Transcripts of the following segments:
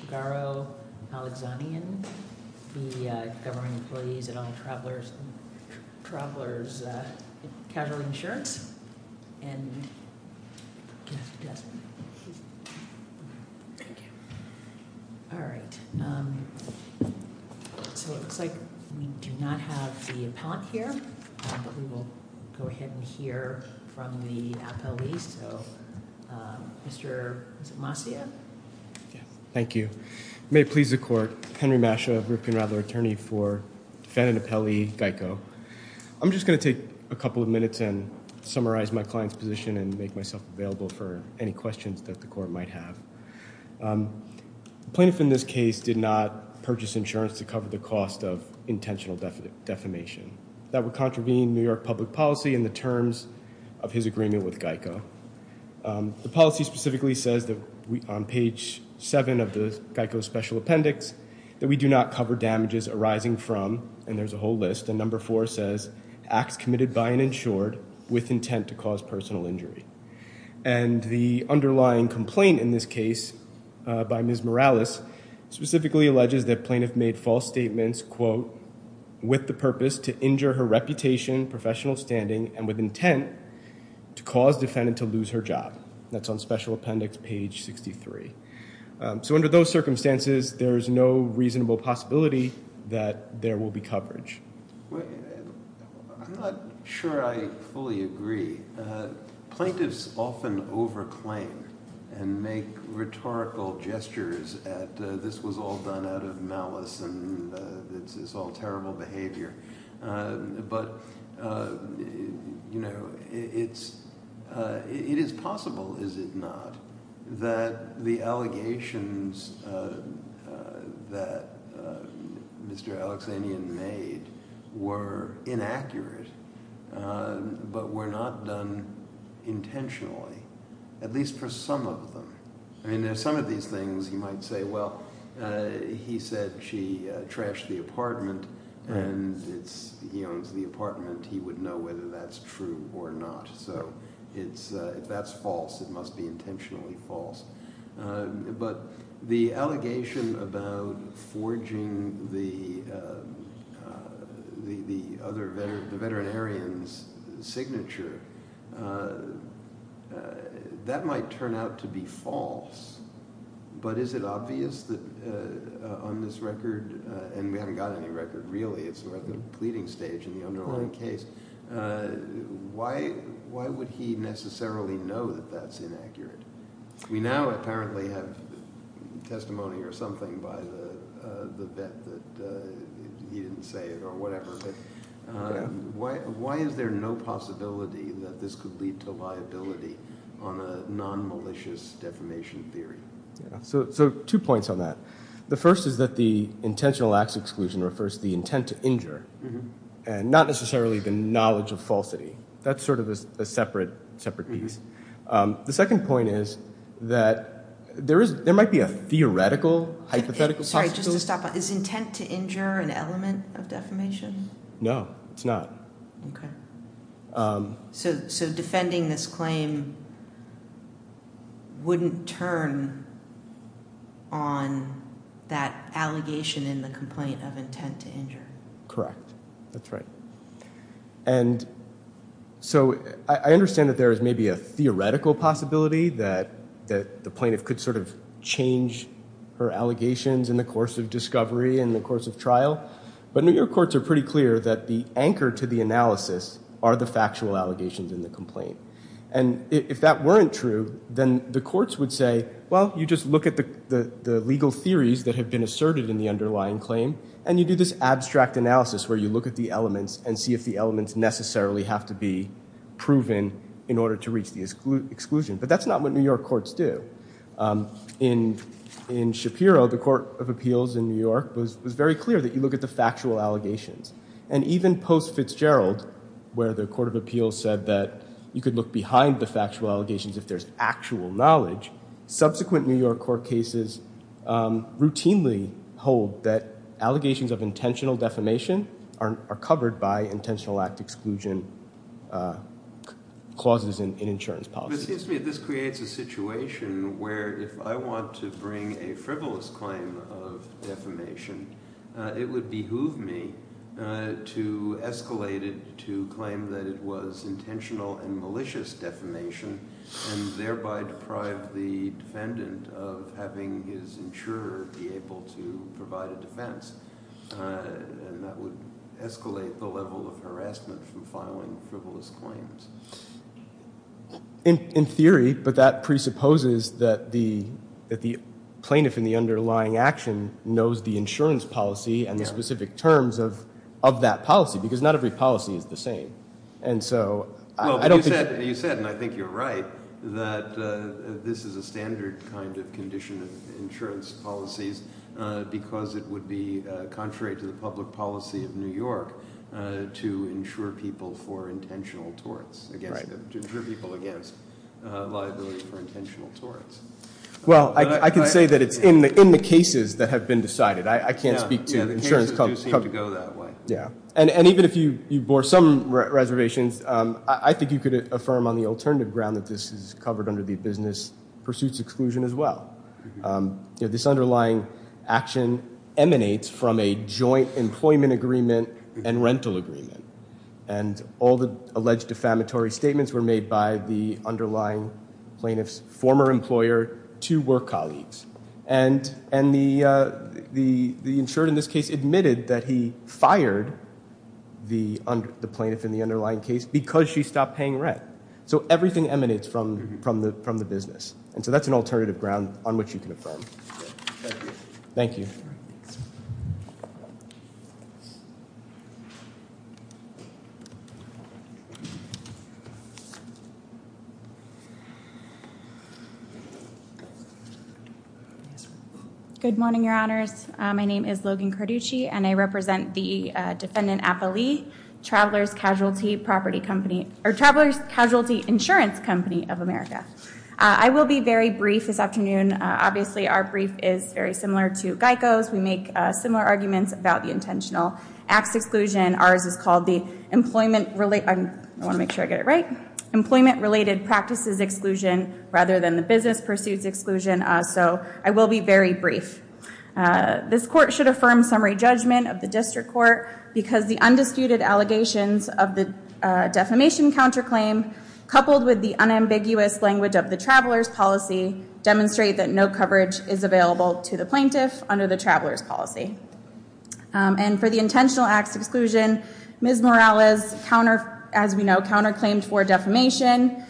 Shigaro Alexanian v. Government Employees and All Travelers Casualty Insurance and... All right. So it looks like we do not have the appellant here, but we will go ahead and hear from the appellees. So, Mr. Masea? Thank you. May it please the court, Henry Masea, European Rattler attorney for defendant appellee Geico. I'm just going to take a couple of minutes and summarize my client's position and make myself available for any questions that the court might have. The plaintiff in this case did not purchase insurance to cover the cost of intentional defamation. That would contravene New York public policy in the terms of his agreement with Geico. The policy specifically says that on page seven of the Geico special appendix that we do not cover damages arising from, and there's a whole list, and number four says acts committed by an insured with intent to cause personal injury. And the underlying complaint in this case by Ms. Morales specifically alleges that plaintiff made false statements, quote, with the purpose to injure her reputation, professional standing, and with intent to cause defendant to lose her job. That's on special appendix page 63. So under those circumstances, there is no reasonable possibility that there will be coverage. I'm not sure I fully agree. Plaintiffs often over claim and make rhetorical gestures at this was all done out of malice and it's all terrible behavior. But it is possible, is it not, that the allegations that Mr. Alexanian made were inaccurate, but were not done intentionally, at least for some of them. I mean some of these things you might say, well, he said she trashed the apartment and he owns the apartment. He would know whether that's true or not. So if that's false, it must be intentionally false. But the allegation about forging the other, the veterinarian's signature, that might turn out to be false. But is it obvious that on this record, and we haven't got any record really. It's at the pleading stage in the underlying case. Why would he necessarily know that that's inaccurate? We now apparently have testimony or something by the vet that he didn't say it or whatever. But why is there no possibility that this could lead to liability on a non-malicious defamation theory? So two points on that. The first is that the intentional acts exclusion refers to the intent to injure and not necessarily the knowledge of falsity. That's sort of a separate piece. The second point is that there might be a theoretical hypothetical possibility. Sorry, just to stop. Is intent to injure an element of defamation? No, it's not. So defending this claim wouldn't turn on that allegation in the complaint of intent to injure. Correct. That's right. And so I understand that there is maybe a theoretical possibility that the plaintiff could sort of change her allegations in the course of discovery, in the course of trial. But New York courts are pretty clear that the anchor to the analysis are the factual allegations in the complaint. And if that weren't true, then the courts would say, well, you just look at the legal theories that have been asserted in the underlying claim. And you do this abstract analysis where you look at the elements and see if the elements necessarily have to be proven in order to reach the exclusion. But that's not what New York courts do. In Shapiro, the court of appeals in New York was very clear that you look at the factual allegations. And even post-Fitzgerald, where the court of appeals said that you could look behind the factual allegations if there's actual knowledge, subsequent New York court cases routinely hold that allegations of intentional defamation are covered by intentional act exclusion clauses in insurance policy. It seems to me that this creates a situation where if I want to bring a frivolous claim of defamation, it would behoove me to escalate it to claim that it was intentional and malicious defamation and thereby deprive the defendant of having his insurer be able to provide a defense. And that would escalate the level of harassment from filing frivolous claims. In theory, but that presupposes that the plaintiff in the underlying action knows the insurance policy and the specific terms of that policy, because not every policy is the same. You said, and I think you're right, that this is a standard kind of condition of insurance policies because it would be contrary to the public policy of New York to insure people for intentional torts. To insure people against liability for intentional torts. Well, I can say that it's in the cases that have been decided. I can't speak to insurance companies. Yeah, the cases do seem to go that way. Yeah, and even if you bore some reservations, I think you could affirm on the alternative ground that this is covered under the business pursuits exclusion as well. This underlying action emanates from a joint employment agreement and rental agreement. And all the alleged defamatory statements were made by the underlying plaintiff's former employer, two work colleagues. And the insured in this case admitted that he fired the plaintiff in the underlying case because she stopped paying rent. So everything emanates from the business. And so that's an alternative ground on which you can affirm. Thank you. Good morning, Your Honors. My name is Logan Carducci, and I represent the Defendant Appellee Traveler's Casualty Insurance Company of America. I will be very brief this afternoon. Obviously, our brief is very similar to GEICO's. We make similar arguments about the intentional acts exclusion. Ours is called the Employment Related Practices Exclusion rather than the Business Pursuits Exclusion. So I will be very brief. This court should affirm summary judgment of the district court because the undisputed allegations of the defamation counterclaim, coupled with the unambiguous language of the traveler's policy, demonstrate that no coverage is available to the plaintiff under the traveler's policy. And for the intentional acts exclusion, Ms. Morales, as we know, counterclaimed for defamation.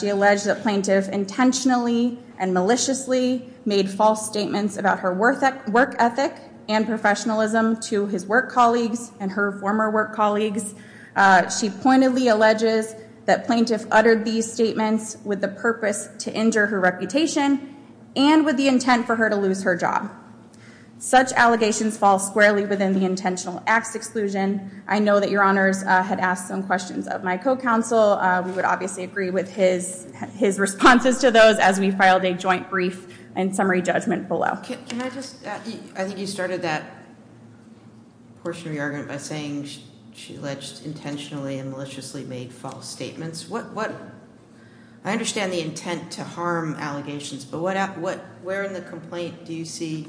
She alleged that plaintiff intentionally and maliciously made false statements about her work ethic and professionalism to his work colleagues and her former work colleagues. She pointedly alleges that plaintiff uttered these statements with the purpose to injure her reputation and with the intent for her to lose her job. Such allegations fall squarely within the intentional acts exclusion. I know that Your Honors had asked some questions of my co-counsel. We would obviously agree with his responses to those as we filed a joint brief and summary judgment below. Can I just add, I think you started that portion of your argument by saying she alleged intentionally and maliciously made false statements. What, I understand the intent to harm allegations, but where in the complaint do you see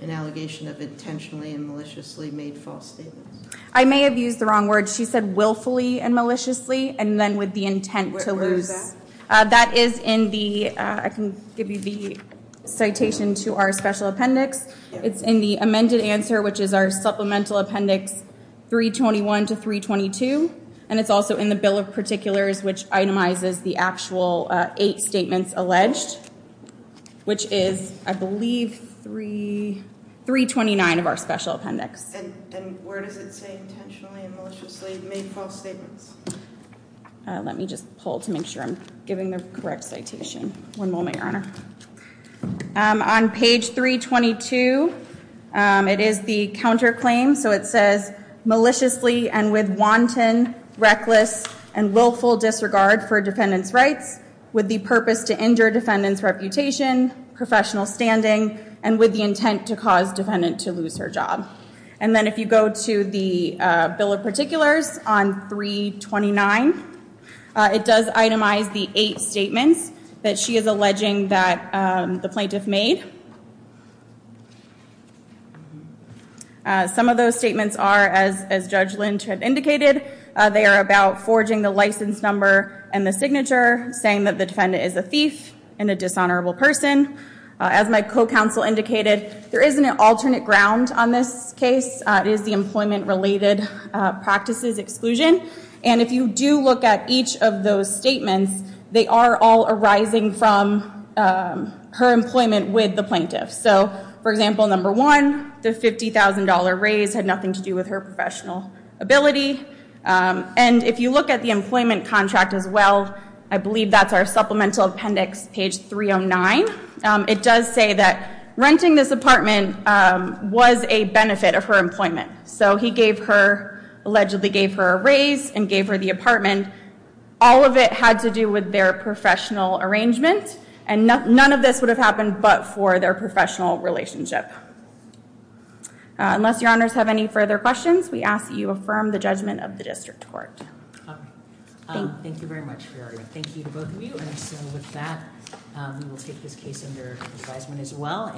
an allegation of intentionally and maliciously made false statements? I may have used the wrong words. She said willfully and maliciously, and then with the intent to lose. That is in the, I can give you the citation to our special appendix. It's in the amended answer, which is our supplemental appendix 321 to 322. And it's also in the bill of particulars, which itemizes the actual eight statements alleged, which is, I believe, 329 of our special appendix. And where does it say intentionally and maliciously made false statements? Let me just pull to make sure I'm giving the correct citation. One moment, Your Honor. On page 322, it is the counterclaim. So it says maliciously and with wanton, reckless, and willful disregard for defendant's rights, with the purpose to injure defendant's reputation, professional standing, and with the intent to cause defendant to lose her job. And then if you go to the bill of particulars on 329, it does itemize the eight statements that she is alleging that the plaintiff made. Some of those statements are, as Judge Lynch had indicated, they are about forging the license number and the signature, saying that the defendant is a thief and a dishonorable person. As my co-counsel indicated, there is an alternate ground on this case. It is the employment-related practices exclusion. And if you do look at each of those statements, they are all arising from her employment with the plaintiff. So, for example, number one, the $50,000 raise had nothing to do with her professional ability. And if you look at the employment contract as well, I believe that's our supplemental appendix, page 309. It does say that renting this apartment was a benefit of her employment. So he allegedly gave her a raise and gave her the apartment. All of it had to do with their professional arrangement. And none of this would have happened but for their professional relationship. Unless your honors have any further questions, we ask that you affirm the judgment of the district court. Thank you very much, Fioria. Thank you to both of you. And so with that, we will take this case under advisement as well.